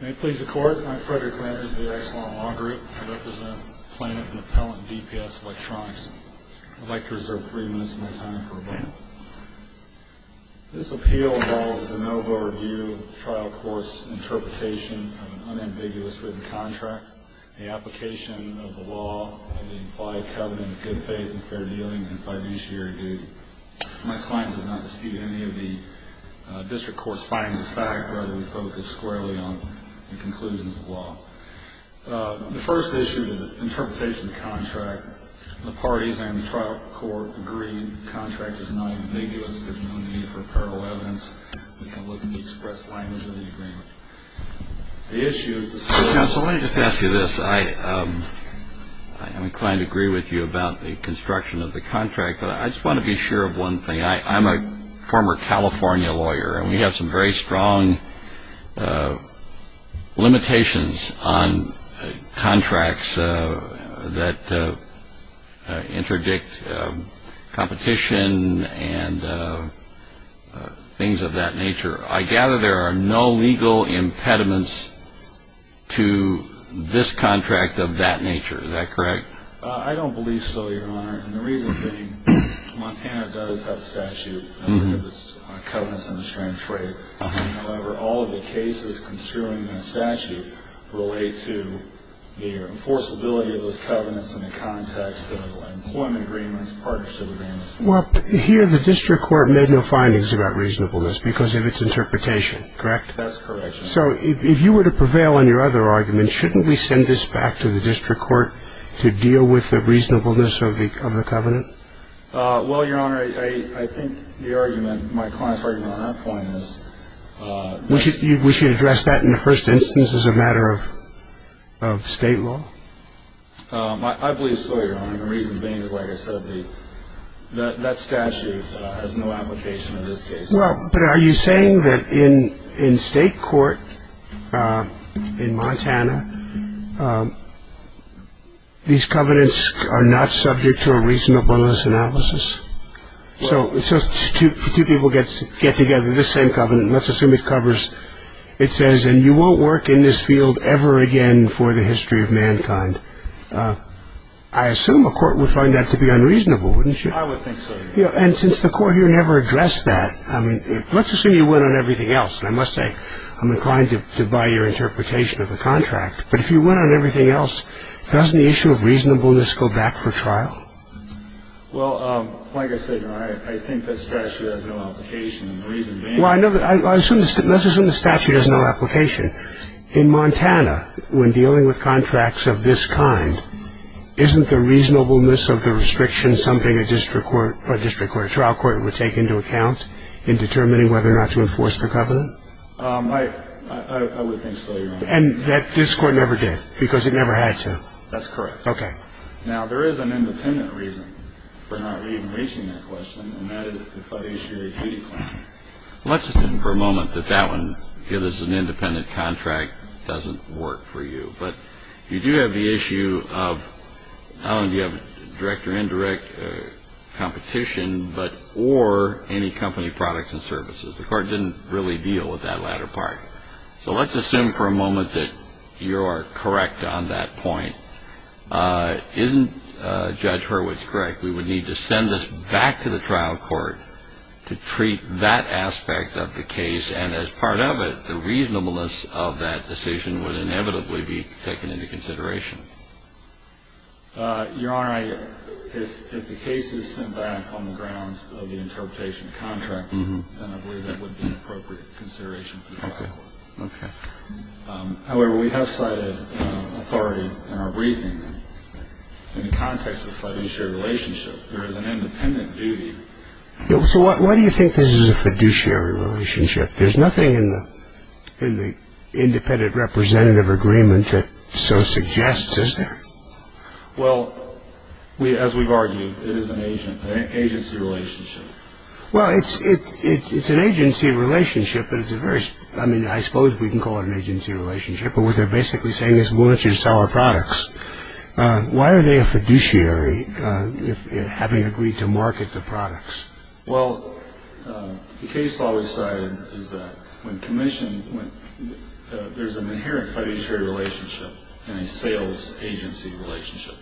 May it please the Court, I'm Frederick Landers of the Exelon Law Group. I represent the plaintiff and appellant in DPS Electronics. I'd like to reserve three minutes of my time for a moment. This appeal involves a de novo review of the trial court's interpretation of an unambiguous written contract, the application of the law, and the implied covenant of good faith and fair dealing and fiduciary duty. My client does not dispute any of the district court's findings of fact, rather we focus squarely on the conclusions of the law. The first issue, the interpretation of the contract, the parties and the trial court agree the contract is not ambiguous. There's no need for parallel evidence. We have limited express language in the agreement. Mr. Counsel, let me just ask you this. I am inclined to agree with you about the construction of the contract, but I just want to be sure of one thing. I'm a former California lawyer, and we have some very strong limitations on contracts that interdict competition and things of that nature. I gather there are no legal impediments to this contract of that nature. Is that correct? I don't believe so, Your Honor. And the reason being Montana does have a statute that gives us covenants and restraints for it. However, all of the cases construing the statute relate to the enforceability of those covenants in the context of employment agreements, partnership agreements. Well, here the district court made no findings about reasonableness because of its interpretation, correct? That's correct, Your Honor. So if you were to prevail on your other argument, shouldn't we send this back to the district court to deal with the reasonableness of the covenant? Well, Your Honor, I think the argument, my client's argument on that point is... We should address that in the first instance as a matter of state law? I believe so, Your Honor. The reason being is, like I said, that statute has no application in this case. Well, but are you saying that in state court in Montana, these covenants are not subject to a reasonableness analysis? So two people get together, this same covenant, let's assume it covers... It says, and you won't work in this field ever again for the history of mankind. I assume a court would find that to be unreasonable, wouldn't you? I would think so, Your Honor. And since the court here never addressed that, let's assume you win on everything else. And I must say, I'm inclined to buy your interpretation of the contract. But if you win on everything else, doesn't the issue of reasonableness go back for trial? Well, like I said, Your Honor, I think that statute has no application. The reason being... Well, let's assume the statute has no application. In Montana, when dealing with contracts of this kind, isn't the reasonableness of the restriction something a district court or a trial court would take into account in determining whether or not to enforce the covenant? I would think so, Your Honor. And that this court never did because it never had to? That's correct. Okay. Now, there is an independent reason for not reaching that question, and that is the fiduciary duty claim. Let's assume for a moment that that one, if this is an independent contract, doesn't work for you. But you do have the issue of not only do you have direct or indirect competition, but or any company products and services. The court didn't really deal with that latter part. So let's assume for a moment that you are correct on that point. Isn't Judge Hurwitz correct? We would need to send this back to the trial court to treat that aspect of the case, and as part of it, the reasonableness of that decision would inevitably be taken into consideration. Your Honor, if the case is sent back on the grounds of the interpretation of contract, then I believe that would be an appropriate consideration for the trial court. Okay. However, we have cited authority in our briefing in the context of fiduciary relationship. There is an independent duty. So why do you think this is a fiduciary relationship? There's nothing in the independent representative agreement that so suggests, is there? Well, as we've argued, it is an agency relationship. Well, it's an agency relationship, but it's a very – I mean, I suppose we can call it an agency relationship, but what they're basically saying is we want you to sell our products. Why are they a fiduciary, having agreed to market the products? Well, the case law decided is that when commissioned, there's an inherent fiduciary relationship and a sales agency relationship.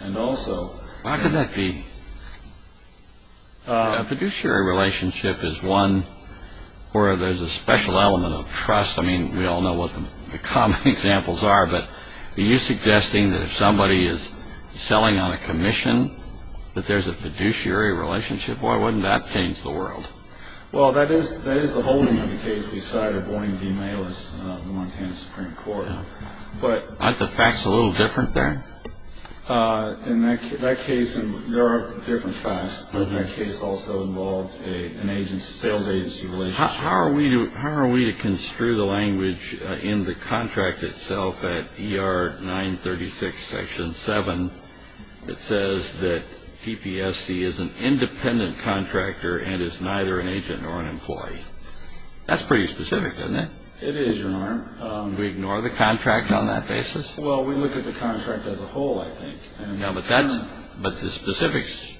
And also – How could that be? A fiduciary relationship is one where there's a special element of trust. I mean, we all know what the common examples are, but are you suggesting that if somebody is selling on a commission, that there's a fiduciary relationship? Why wouldn't that change the world? Well, that is the holding of the case we cited, warning the mailers of the Montana Supreme Court. Aren't the facts a little different there? In that case, there are different facts, but that case also involved a sales agency relationship. How are we to construe the language in the contract itself at ER 936 Section 7 that says that DPSC is an independent contractor and is neither an agent nor an employee? That's pretty specific, isn't it? It is, Your Honor. Do we ignore the contract on that basis? Well, we look at the contract as a whole, I think. No, but the specifics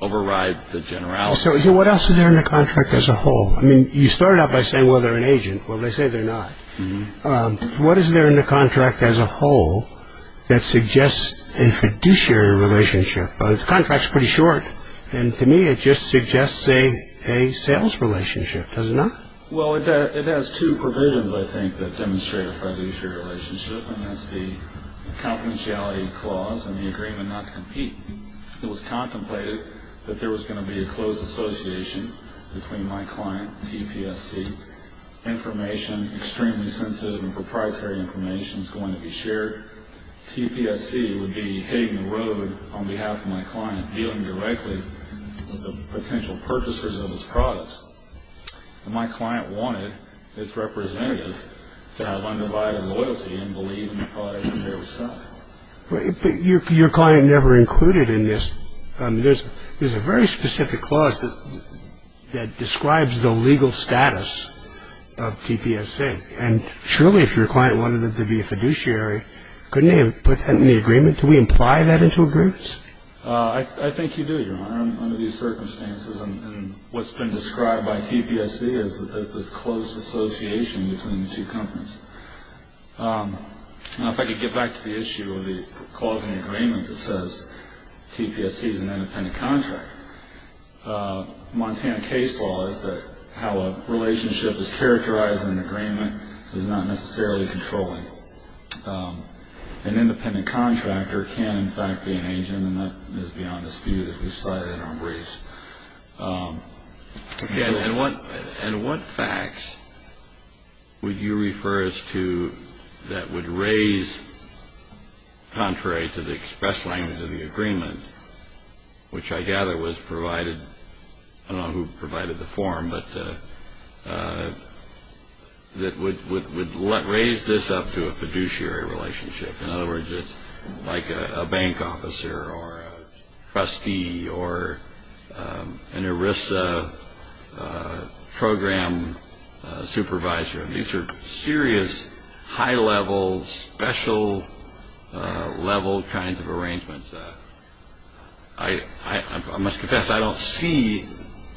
override the generalities. So what else is there in the contract as a whole? I mean, you started out by saying, well, they're an agent. Well, they say they're not. What is there in the contract as a whole that suggests a fiduciary relationship? The contract's pretty short, and to me it just suggests a sales relationship, does it not? Well, it has two provisions, I think, that demonstrate a fiduciary relationship, and that's the confidentiality clause and the agreement not to compete. It was contemplated that there was going to be a close association between my client, TPSC. Information, extremely sensitive and proprietary information, is going to be shared. TPSC would be hitting the road on behalf of my client, dealing directly with the potential purchasers of his products. My client wanted its representative to have undivided loyalty and believe in the products that they were selling. But your client never included in this. There's a very specific clause that describes the legal status of TPSC, and surely if your client wanted it to be a fiduciary, couldn't they have put that in the agreement? Do we imply that into agreements? I think you do, Your Honor, under these circumstances, and what's been described by TPSC as this close association between the two companies. Now, if I could get back to the issue of the clause in the agreement that says TPSC is an independent contractor. Montana case law is that how a relationship is characterized in an agreement is not necessarily controlling. An independent contractor can, in fact, be an agent, and that is beyond dispute, as we've cited in our briefs. And what facts would you refer us to that would raise, contrary to the express language of the agreement, which I gather was provided, I don't know who provided the form, but that would raise this up to a fiduciary relationship, in other words, like a bank officer or a trustee or an ERISA program supervisor. These are serious, high-level, special-level kinds of arrangements. I must confess I don't see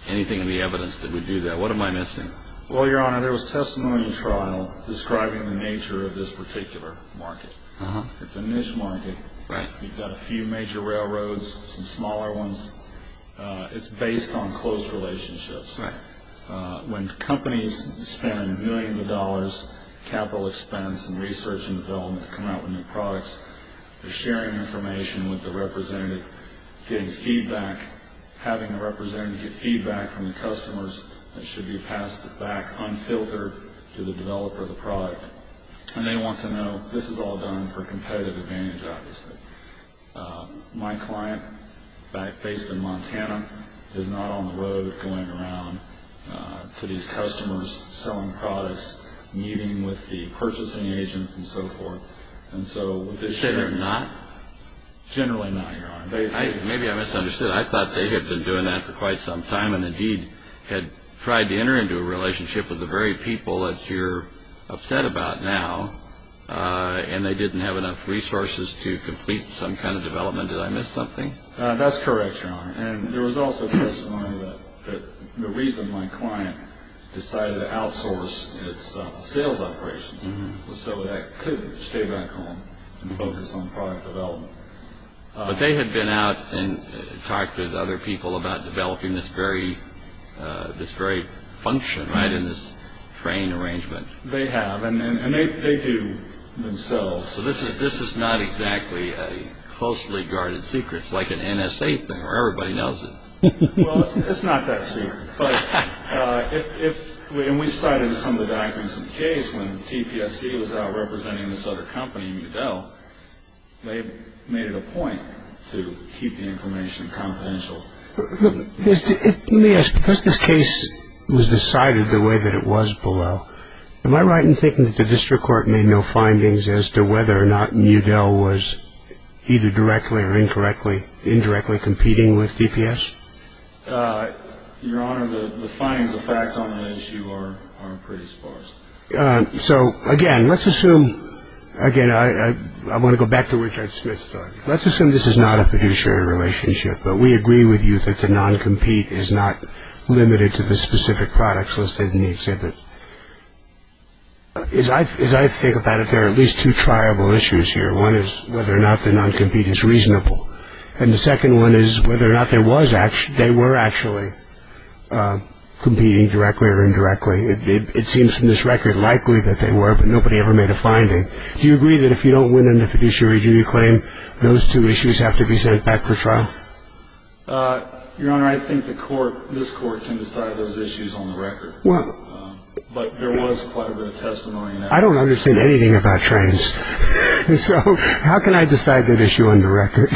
anything in the evidence that would do that. What am I missing? Well, Your Honor, there was testimony in the trial describing the nature of this particular market. It's a niche market. We've got a few major railroads, some smaller ones. It's based on close relationships. When companies spend millions of dollars, capital expense and research and development, to come out with new products, they're sharing information with the representative, getting feedback, having the representative get feedback from the customers that should be passed back, unfiltered, to the developer of the product. And they want to know, this is all done for competitive advantage, obviously. My client, based in Montana, is not on the road going around to these customers selling products, meeting with the purchasing agents and so forth. Should have not? Generally not, Your Honor. Maybe I misunderstood. I thought they had been doing that for quite some time and indeed had tried to enter into a relationship with the very people that you're upset about now, and they didn't have enough resources to complete some kind of development. Did I miss something? That's correct, Your Honor. And there was also testimony that the reason my client decided to outsource its sales operations was so that it could stay back home and focus on product development. But they had been out and talked with other people about developing this very function, right, in this train arrangement. They have, and they do themselves. So this is not exactly a closely guarded secret. It's like an NSA thing where everybody knows it. Well, it's not that secret. And we cited some of the documents in the case when TPSC was out representing this other company, Udell, they made it a point to keep the information confidential. Let me ask, because this case was decided the way that it was below, am I right in thinking that the district court made no findings as to whether or not Udell was either directly or incorrectly, indirectly competing with DPS? Your Honor, the findings of fact on the issue are pretty sparse. So, again, let's assume, again, I want to go back to Richard Smith's story. Let's assume this is not a fiduciary relationship, but we agree with you that the non-compete is not limited to the specific products listed in the exhibit. As I think about it, there are at least two triable issues here. One is whether or not the non-compete is reasonable. And the second one is whether or not they were actually competing directly or indirectly. It seems from this record likely that they were, but nobody ever made a finding. Do you agree that if you don't win in the fiduciary, do you claim those two issues have to be sent back for trial? Your Honor, I think the court, this court, can decide those issues on the record. But there was quite a bit of testimony. I don't understand anything about trains. So how can I decide that issue on the record?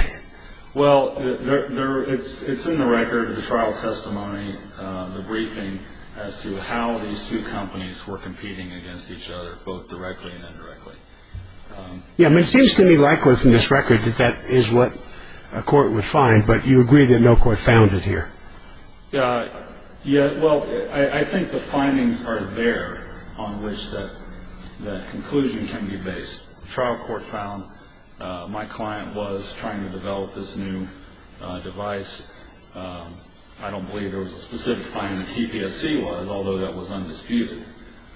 Well, it's in the record, the trial testimony, the briefing as to how these two companies were competing against each other, both directly and indirectly. Yeah, I mean, it seems to me likely from this record that that is what a court would find, but you agree that no court found it here. Yeah, well, I think the findings are there on which the conclusion can be based. The trial court found my client was trying to develop this new device. I don't believe there was a specific finding that TPSC was, although that was undisputed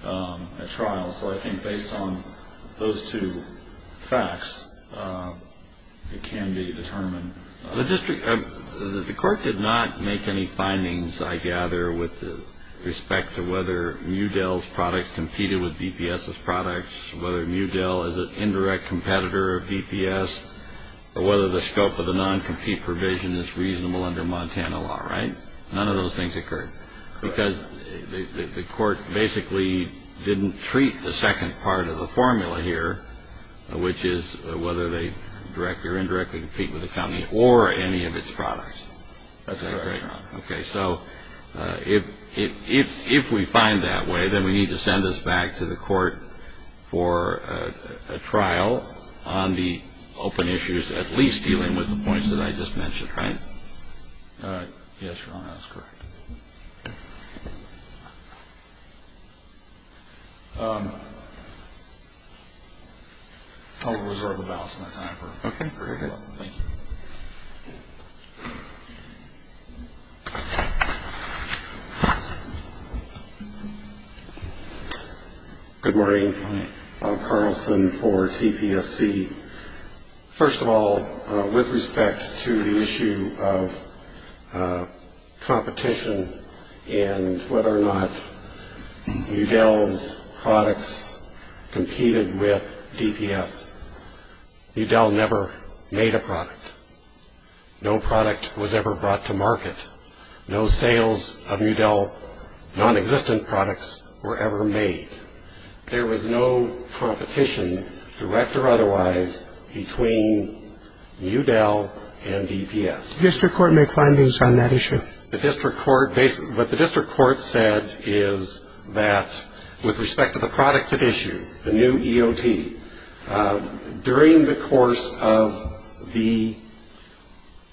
at trial. So I think based on those two facts, it can be determined. The court did not make any findings, I gather, with respect to whether Mudell's product competed with DPS's product, whether Mudell is an indirect competitor of DPS, or whether the scope of the non-compete provision is reasonable under Montana law, right? None of those things occurred. Because the court basically didn't treat the second part of the formula here, which is whether they directly or indirectly compete with the company or any of its products. That's correct, Your Honor. Okay, so if we find that way, then we need to send this back to the court for a trial on the open issues at least dealing with the points that I just mentioned, right? Yes, Your Honor, that's correct. I'll reserve the balance of my time. Okay, go ahead. Thank you. Good morning. I'm Carlson for TPSC. First of all, with respect to the issue of competition and whether or not Mudell's products competed with DPS, Mudell never made a product. No product was ever brought to market. No sales of Mudell non-existent products were ever made. There was no competition, direct or otherwise, between Mudell and DPS. The district court made findings on that issue. What the district court said is that with respect to the product at issue, the new EOT, during the course of the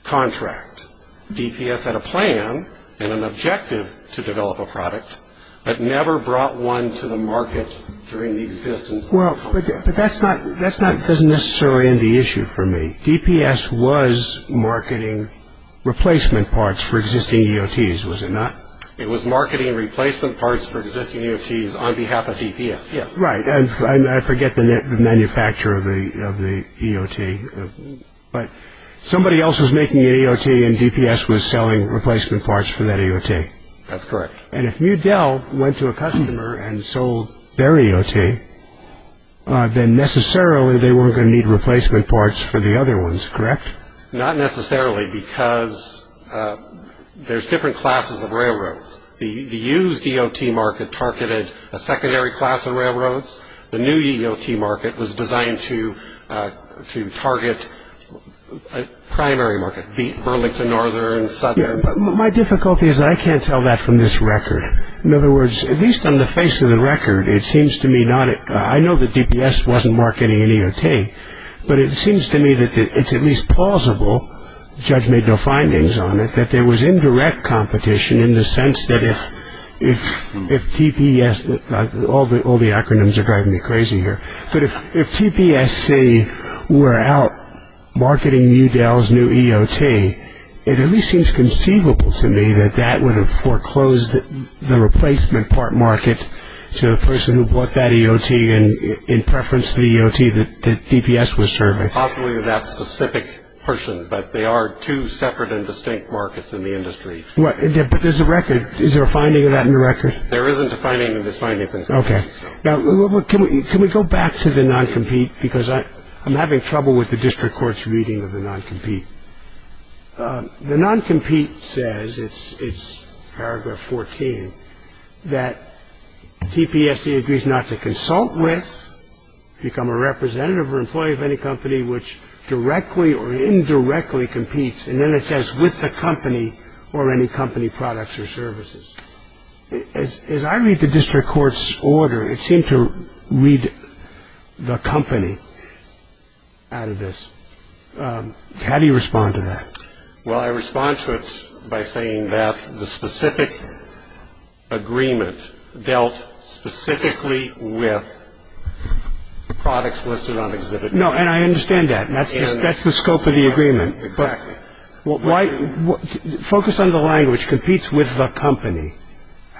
contract, DPS had a plan and an objective to develop a product but never brought one to the market during the existence of the company. Well, but that doesn't necessarily end the issue for me. DPS was marketing replacement parts for existing EOTs, was it not? It was marketing replacement parts for existing EOTs on behalf of DPS, yes. Right, and I forget the manufacturer of the EOT, but somebody else was making an EOT and DPS was selling replacement parts for that EOT. That's correct. And if Mudell went to a customer and sold their EOT, then necessarily they weren't going to need replacement parts for the other ones, correct? Not necessarily because there's different classes of railroads. The used EOT market targeted a secondary class of railroads. The new EOT market was designed to target a primary market, Burlington Northern and Southern. My difficulty is that I can't tell that from this record. In other words, at least on the face of the record, it seems to me not, I know that DPS wasn't marketing an EOT, but it seems to me that it's at least plausible, the judge made no findings on it, that there was indirect competition in the sense that if DPS, all the acronyms are driving me crazy here, but if TPSC were out marketing Mudell's new EOT, it at least seems conceivable to me that that would have foreclosed the replacement part market to the person who bought that EOT in preference to the EOT that DPS was serving. Possibly to that specific person, but they are two separate and distinct markets in the industry. But there's a record. Is there a finding of that in the record? There isn't a finding in this finding. Okay. Now, can we go back to the non-compete? Because I'm having trouble with the district court's reading of the non-compete. The non-compete says, it's paragraph 14, that TPSC agrees not to consult with, become a representative or employee of any company which directly or indirectly competes, and then it says with the company or any company products or services. As I read the district court's order, it seemed to read the company out of this. How do you respond to that? Well, I respond to it by saying that the specific agreement dealt specifically with the products listed on Exhibit A. No, and I understand that. That's the scope of the agreement. Exactly. Focus on the language, competes with the company.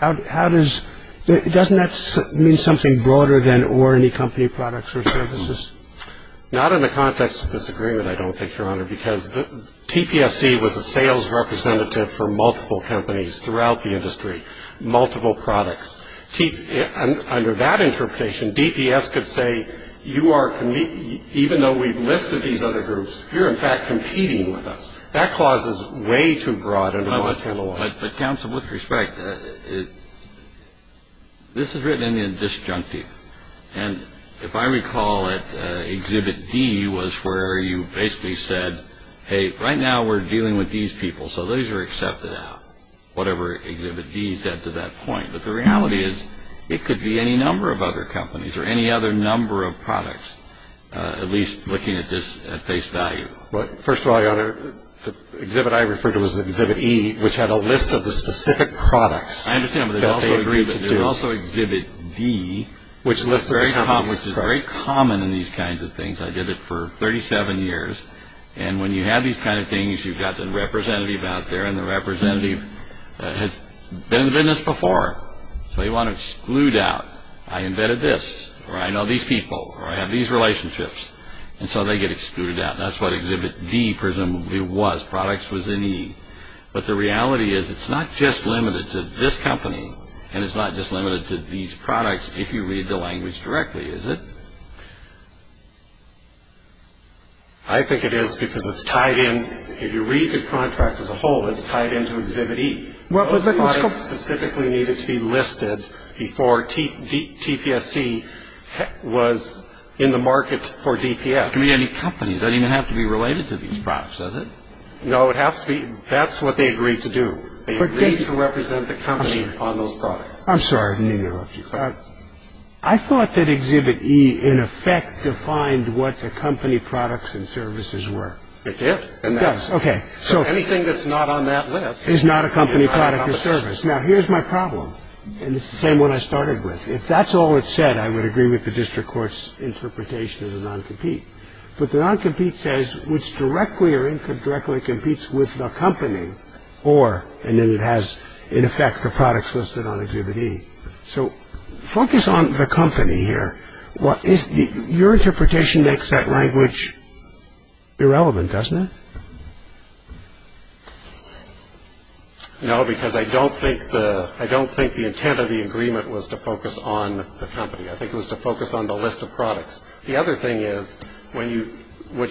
Doesn't that mean something broader than or any company products or services? Not in the context of this agreement, I don't think, Your Honor, because TPSC was a sales representative for multiple companies throughout the industry, multiple products. Under that interpretation, DPS could say, even though we've listed these other groups, you're, in fact, competing with us. That clause is way too broad in the Montana law. But, counsel, with respect, this is written in disjunctive. And if I recall it, Exhibit D was where you basically said, hey, right now we're dealing with these people, so those are accepted out, whatever Exhibit D said to that point. But the reality is it could be any number of other companies or any other number of products, at least looking at this at face value. Well, first of all, Your Honor, the exhibit I referred to was Exhibit E, which had a list of the specific products. I understand, but there's also Exhibit D, which is very common in these kinds of things. I did it for 37 years. And when you have these kind of things, you've got the representative out there, and the representative has been in the business before. So you want to exclude out, I embedded this, or I know these people, or I have these relationships. And so they get excluded out, and that's what Exhibit D presumably was. Products was in E. But the reality is it's not just limited to this company, and it's not just limited to these products, if you read the language directly, is it? I think it is because it's tied in. If you read the contract as a whole, it's tied into Exhibit E. Those products specifically needed to be listed before TPSC was in the market for DPS. It could be any company. It doesn't even have to be related to these products, does it? No, it has to be. That's what they agreed to do. They agreed to represent the company on those products. I'm sorry. I thought that Exhibit E, in effect, defined what the company products and services were. It did. Yes, okay. So anything that's not on that list is not a company product or service. Now, here's my problem, and it's the same one I started with. If that's all it said, I would agree with the district court's interpretation as a non-compete. But the non-compete says which directly or indirectly competes with the company or, and then it has, in effect, the products listed on Exhibit E. So focus on the company here. Your interpretation makes that language irrelevant, doesn't it? No, because I don't think the intent of the agreement was to focus on the company. I think it was to focus on the list of products. The other thing is what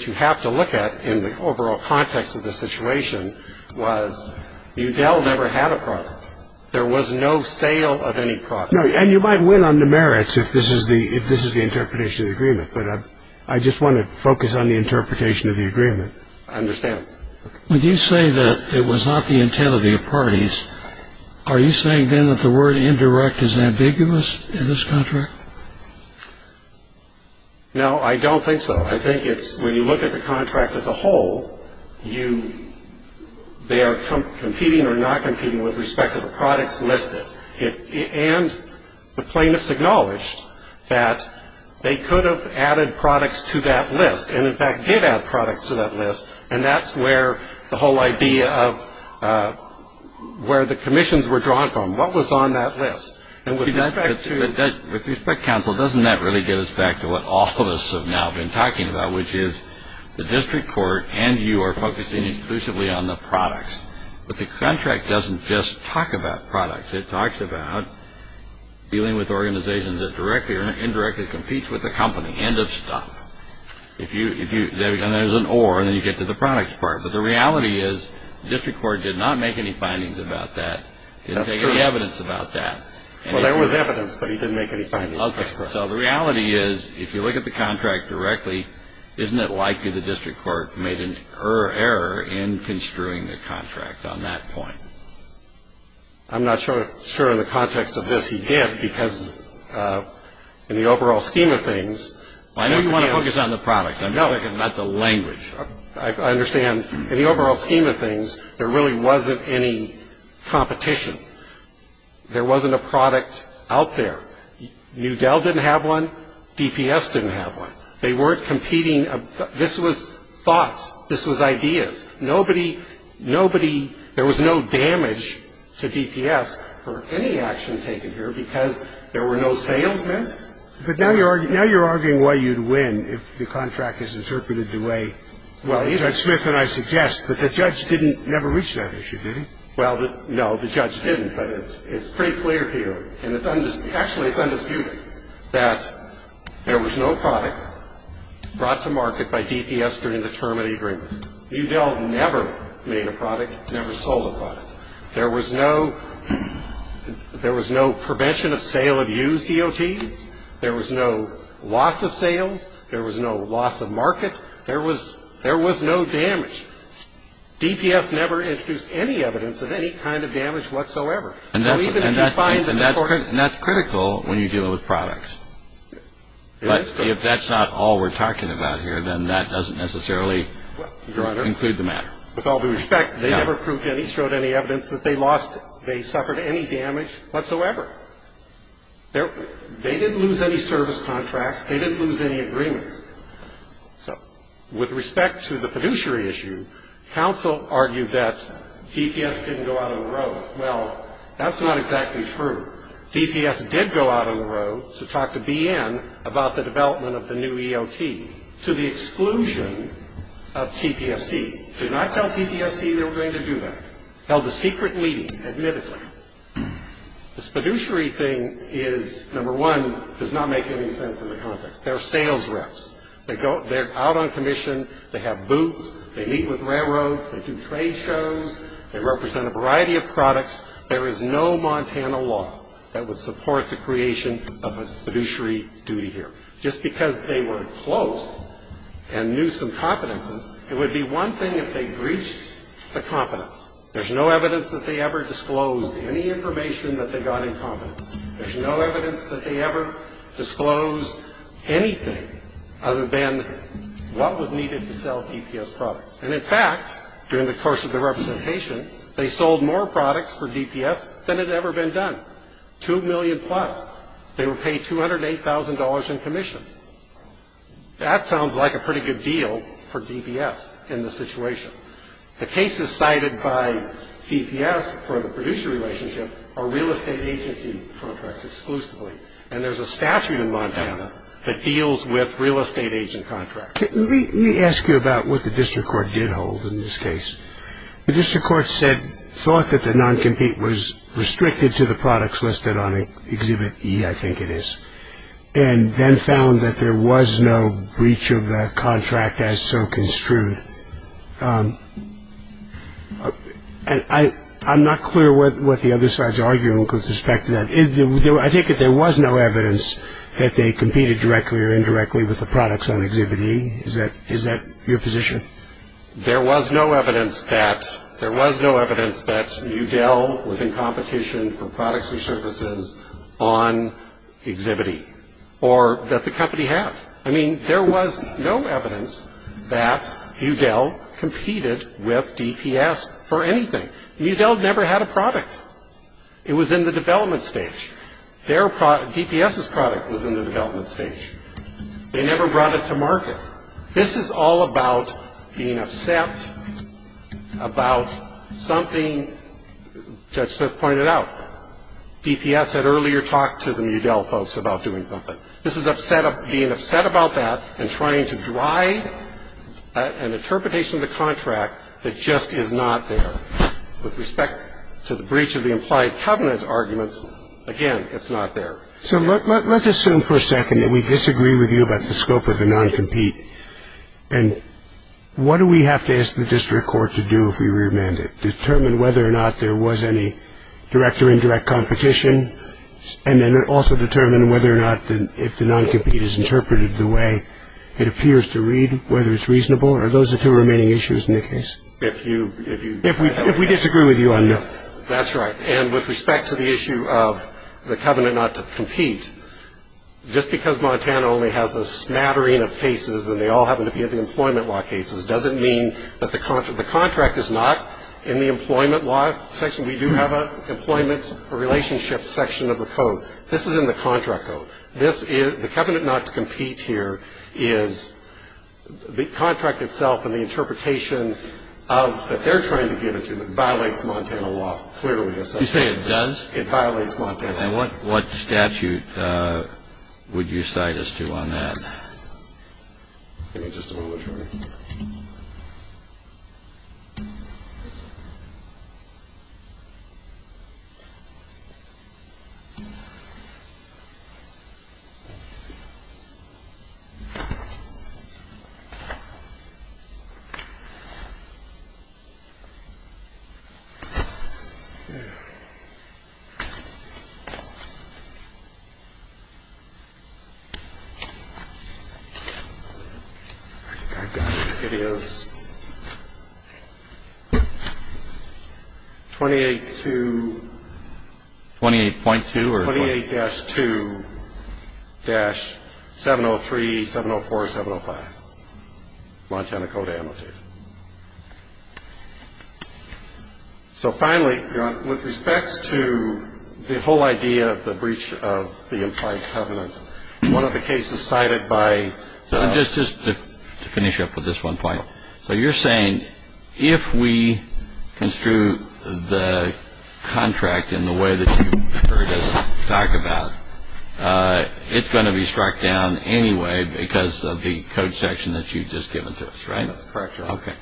you have to look at in the overall context of the situation was Udell never had a product. There was no sale of any product. And you might win on the merits if this is the interpretation of the agreement, but I just want to focus on the interpretation of the agreement. I understand. When you say that it was not the intent of the parties, are you saying then that the word indirect is ambiguous in this contract? No, I don't think so. I think it's when you look at the contract as a whole, they are competing or not competing with respect to the products listed. And the plaintiffs acknowledged that they could have added products to that list and, in fact, did add products to that list, and that's where the whole idea of where the commissions were drawn from, what was on that list. And with respect to — With respect, counsel, doesn't that really get us back to what all of us have now been talking about, which is the district court and you are focusing exclusively on the products, but the contract doesn't just talk about products. It talks about dealing with organizations that directly or indirectly competes with the company end of stuff. And there's an or, and then you get to the products part. But the reality is the district court did not make any findings about that, didn't take any evidence about that. Well, there was evidence, but he didn't make any findings. That's correct. So the reality is if you look at the contract directly, isn't it likely the district court made an error in construing the contract on that point? I'm not sure in the context of this he did, because in the overall scheme of things — I know you want to focus on the product. No. I'm talking about the language. I understand. In the overall scheme of things, there really wasn't any competition. There wasn't a product out there. New Dell didn't have one. DPS didn't have one. They weren't competing. This was thoughts. This was ideas. Nobody, there was no damage to DPS for any action taken here because there were no sales missed. But now you're arguing why you'd win if the contract is interpreted the way Judge Smith and I suggest. But the judge didn't ever reach that issue, did he? Well, no, the judge didn't. But it's pretty clear here, and actually it's undisputed, that there was no product brought to market by DPS during the term of the agreement. New Dell never made a product, never sold a product. There was no prevention of sale of used EOTs. There was no loss of sales. There was no loss of market. There was no damage. DPS never introduced any evidence of any kind of damage whatsoever. And that's critical when you're dealing with products. But if that's not all we're talking about here, then that doesn't necessarily include the matter. With all due respect, they never proved any, showed any evidence that they lost, they suffered any damage whatsoever. They didn't lose any service contracts. They didn't lose any agreements. So with respect to the fiduciary issue, counsel argued that DPS didn't go out on the road. Well, that's not exactly true. DPS did go out on the road to talk to BN about the development of the new EOT, to the exclusion of TPSC. Did not tell TPSC they were going to do that. Held a secret meeting, admittedly. This fiduciary thing is, number one, does not make any sense in the context. They're sales reps. They're out on commission. They have booths. They meet with railroads. They do trade shows. They represent a variety of products. There is no Montana law that would support the creation of a fiduciary duty here. Just because they were close and knew some competences, it would be one thing if they breached the competence. There's no evidence that they ever disclosed any information that they got in competence. There's no evidence that they ever disclosed anything other than what was needed to sell DPS products. And, in fact, during the course of the representation, they sold more products for DPS than had ever been done. Two million plus. They were paid $208,000 in commission. That sounds like a pretty good deal for DPS in this situation. The cases cited by DPS for the fiduciary relationship are real estate agency contracts exclusively. And there's a statute in Montana that deals with real estate agent contracts. Let me ask you about what the district court did hold in this case. The district court said, thought that the noncompete was restricted to the products listed on Exhibit E, I think it is, and then found that there was no breach of the contract as so construed. I'm not clear what the other side's argument with respect to that is. I take it there was no evidence that they competed directly or indirectly with the products on Exhibit E. Is that your position? There was no evidence that Mudell was in competition for products and services on Exhibit E or that the company had. I mean, there was no evidence that Mudell competed with DPS for anything. Mudell never had a product. It was in the development stage. DPS's product was in the development stage. They never brought it to market. This is all about being upset about something Judge Smith pointed out. DPS had earlier talked to the Mudell folks about doing something. This is being upset about that and trying to drive an interpretation of the contract that just is not there. With respect to the breach of the implied covenant arguments, again, it's not there. So let's assume for a second that we disagree with you about the scope of the noncompete, and what do we have to ask the district court to do if we remand it, determine whether or not there was any direct or indirect competition, and then also determine whether or not if the noncompete is interpreted the way it appears to read, whether it's reasonable? Are those the two remaining issues in the case? If we disagree with you on both. That's right. And with respect to the issue of the covenant not to compete, just because Montana only has a smattering of cases and they all happen to be employment law cases, doesn't mean that the contract is not in the employment law section. We do have an employment relationship section of the code. This is in the contract code. The covenant not to compete here is the contract itself and the interpretation that they're trying to give it to violates Montana law clearly. You say it does? It violates Montana law. And what statute would you cite us to on that? Give me just a moment here. I think I've got it. It is 28.2-703, 704, 705, Montana Code Amnesty. So finally, with respect to the whole idea of the breach of the implied covenant, one of the cases cited by the... Just to finish up with this one point. So you're saying if we construe the contract in the way that you've heard us talk about, it's going to be struck down anyway because of the code section that you've just given to us, right? That's correct, Your Honor. Okay.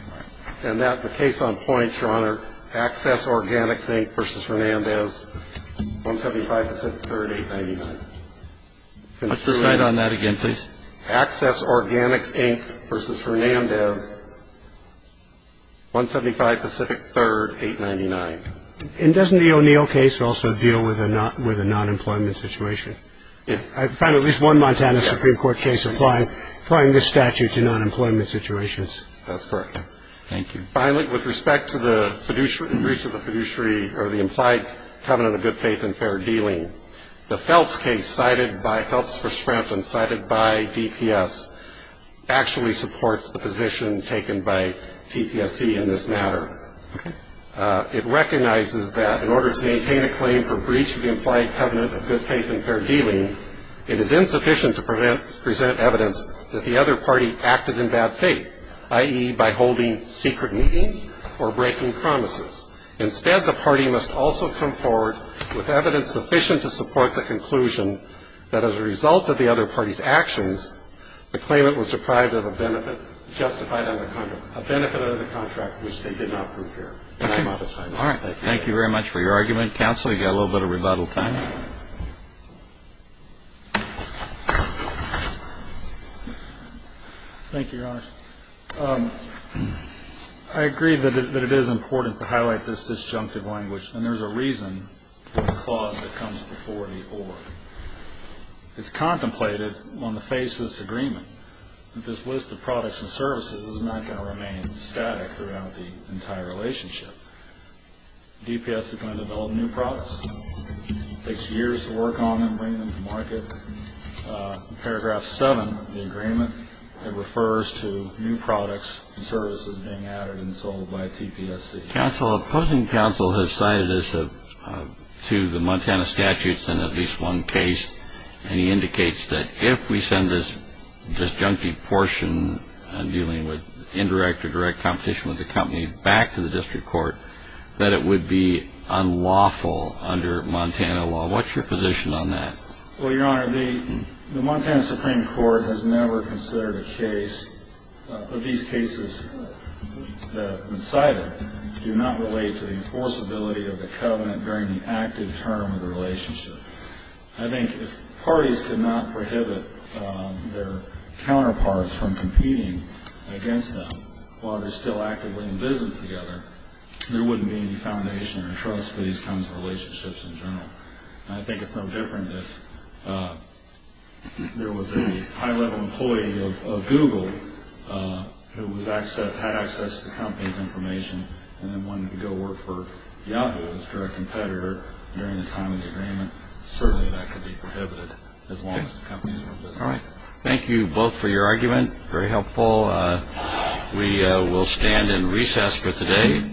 And the case on point, Your Honor, Access Organics, Inc. v. Hernandez, 175 Pacific 3rd, 899. I'll cite on that again, please. Access Organics, Inc. v. Hernandez, 175 Pacific 3rd, 899. And doesn't the O'Neill case also deal with a nonemployment situation? Yes. I found at least one Montana Supreme Court case applying this statute to nonemployment situations. That's correct. Thank you. Finally, with respect to the breach of the fiduciary or the implied covenant of good faith and fair dealing, the Phelps case cited by Phelps v. Scranton, cited by DPS, actually supports the position taken by TPSC in this matter. Okay. It recognizes that in order to maintain a claim for breach of the implied covenant of good faith and fair dealing, it is insufficient to present evidence that the other party acted in bad faith, i.e., by holding secret meetings or breaking promises. Instead, the party must also come forward with evidence sufficient to support the conclusion that as a result of the other party's actions, the claimant was deprived of a benefit justified under the contract, a benefit under the contract which they did not prove fair. And I'm out of time. All right. Thank you very much for your argument. Counsel, we've got a little bit of rebuttal time. Thank you, Your Honors. I agree that it is important to highlight this disjunctive language, and there's a reason for the clause that comes before the or. It's contemplated on the face of this agreement that this list of products and services is not going to remain static throughout the entire relationship. DPS is going to develop new products. It takes years to work on them, bring them to market. In paragraph 7 of the agreement, it refers to new products and services being added and sold by DPSC. Counsel, opposing counsel has cited us to the Montana statutes in at least one case, and he indicates that if we send this disjunctive portion dealing with indirect or direct competition with the company back to the district court, that it would be unlawful under Montana law. What's your position on that? Well, Your Honor, the Montana Supreme Court has never considered a case, but these cases cited do not relate to the enforceability of the covenant during the active term of the relationship. I think if parties could not prohibit their counterparts from competing against them while they're still actively in business together, there wouldn't be any foundation or trust for these kinds of relationships in general. And I think it's no different if there was a high-level employee of Google who had access to the company's information and then wanted to go work for Yahoo as a direct competitor during the time of the agreement. Certainly that could be prohibited as long as the company is in business. Thank you both for your argument. Very helpful. We will stand in recess for today.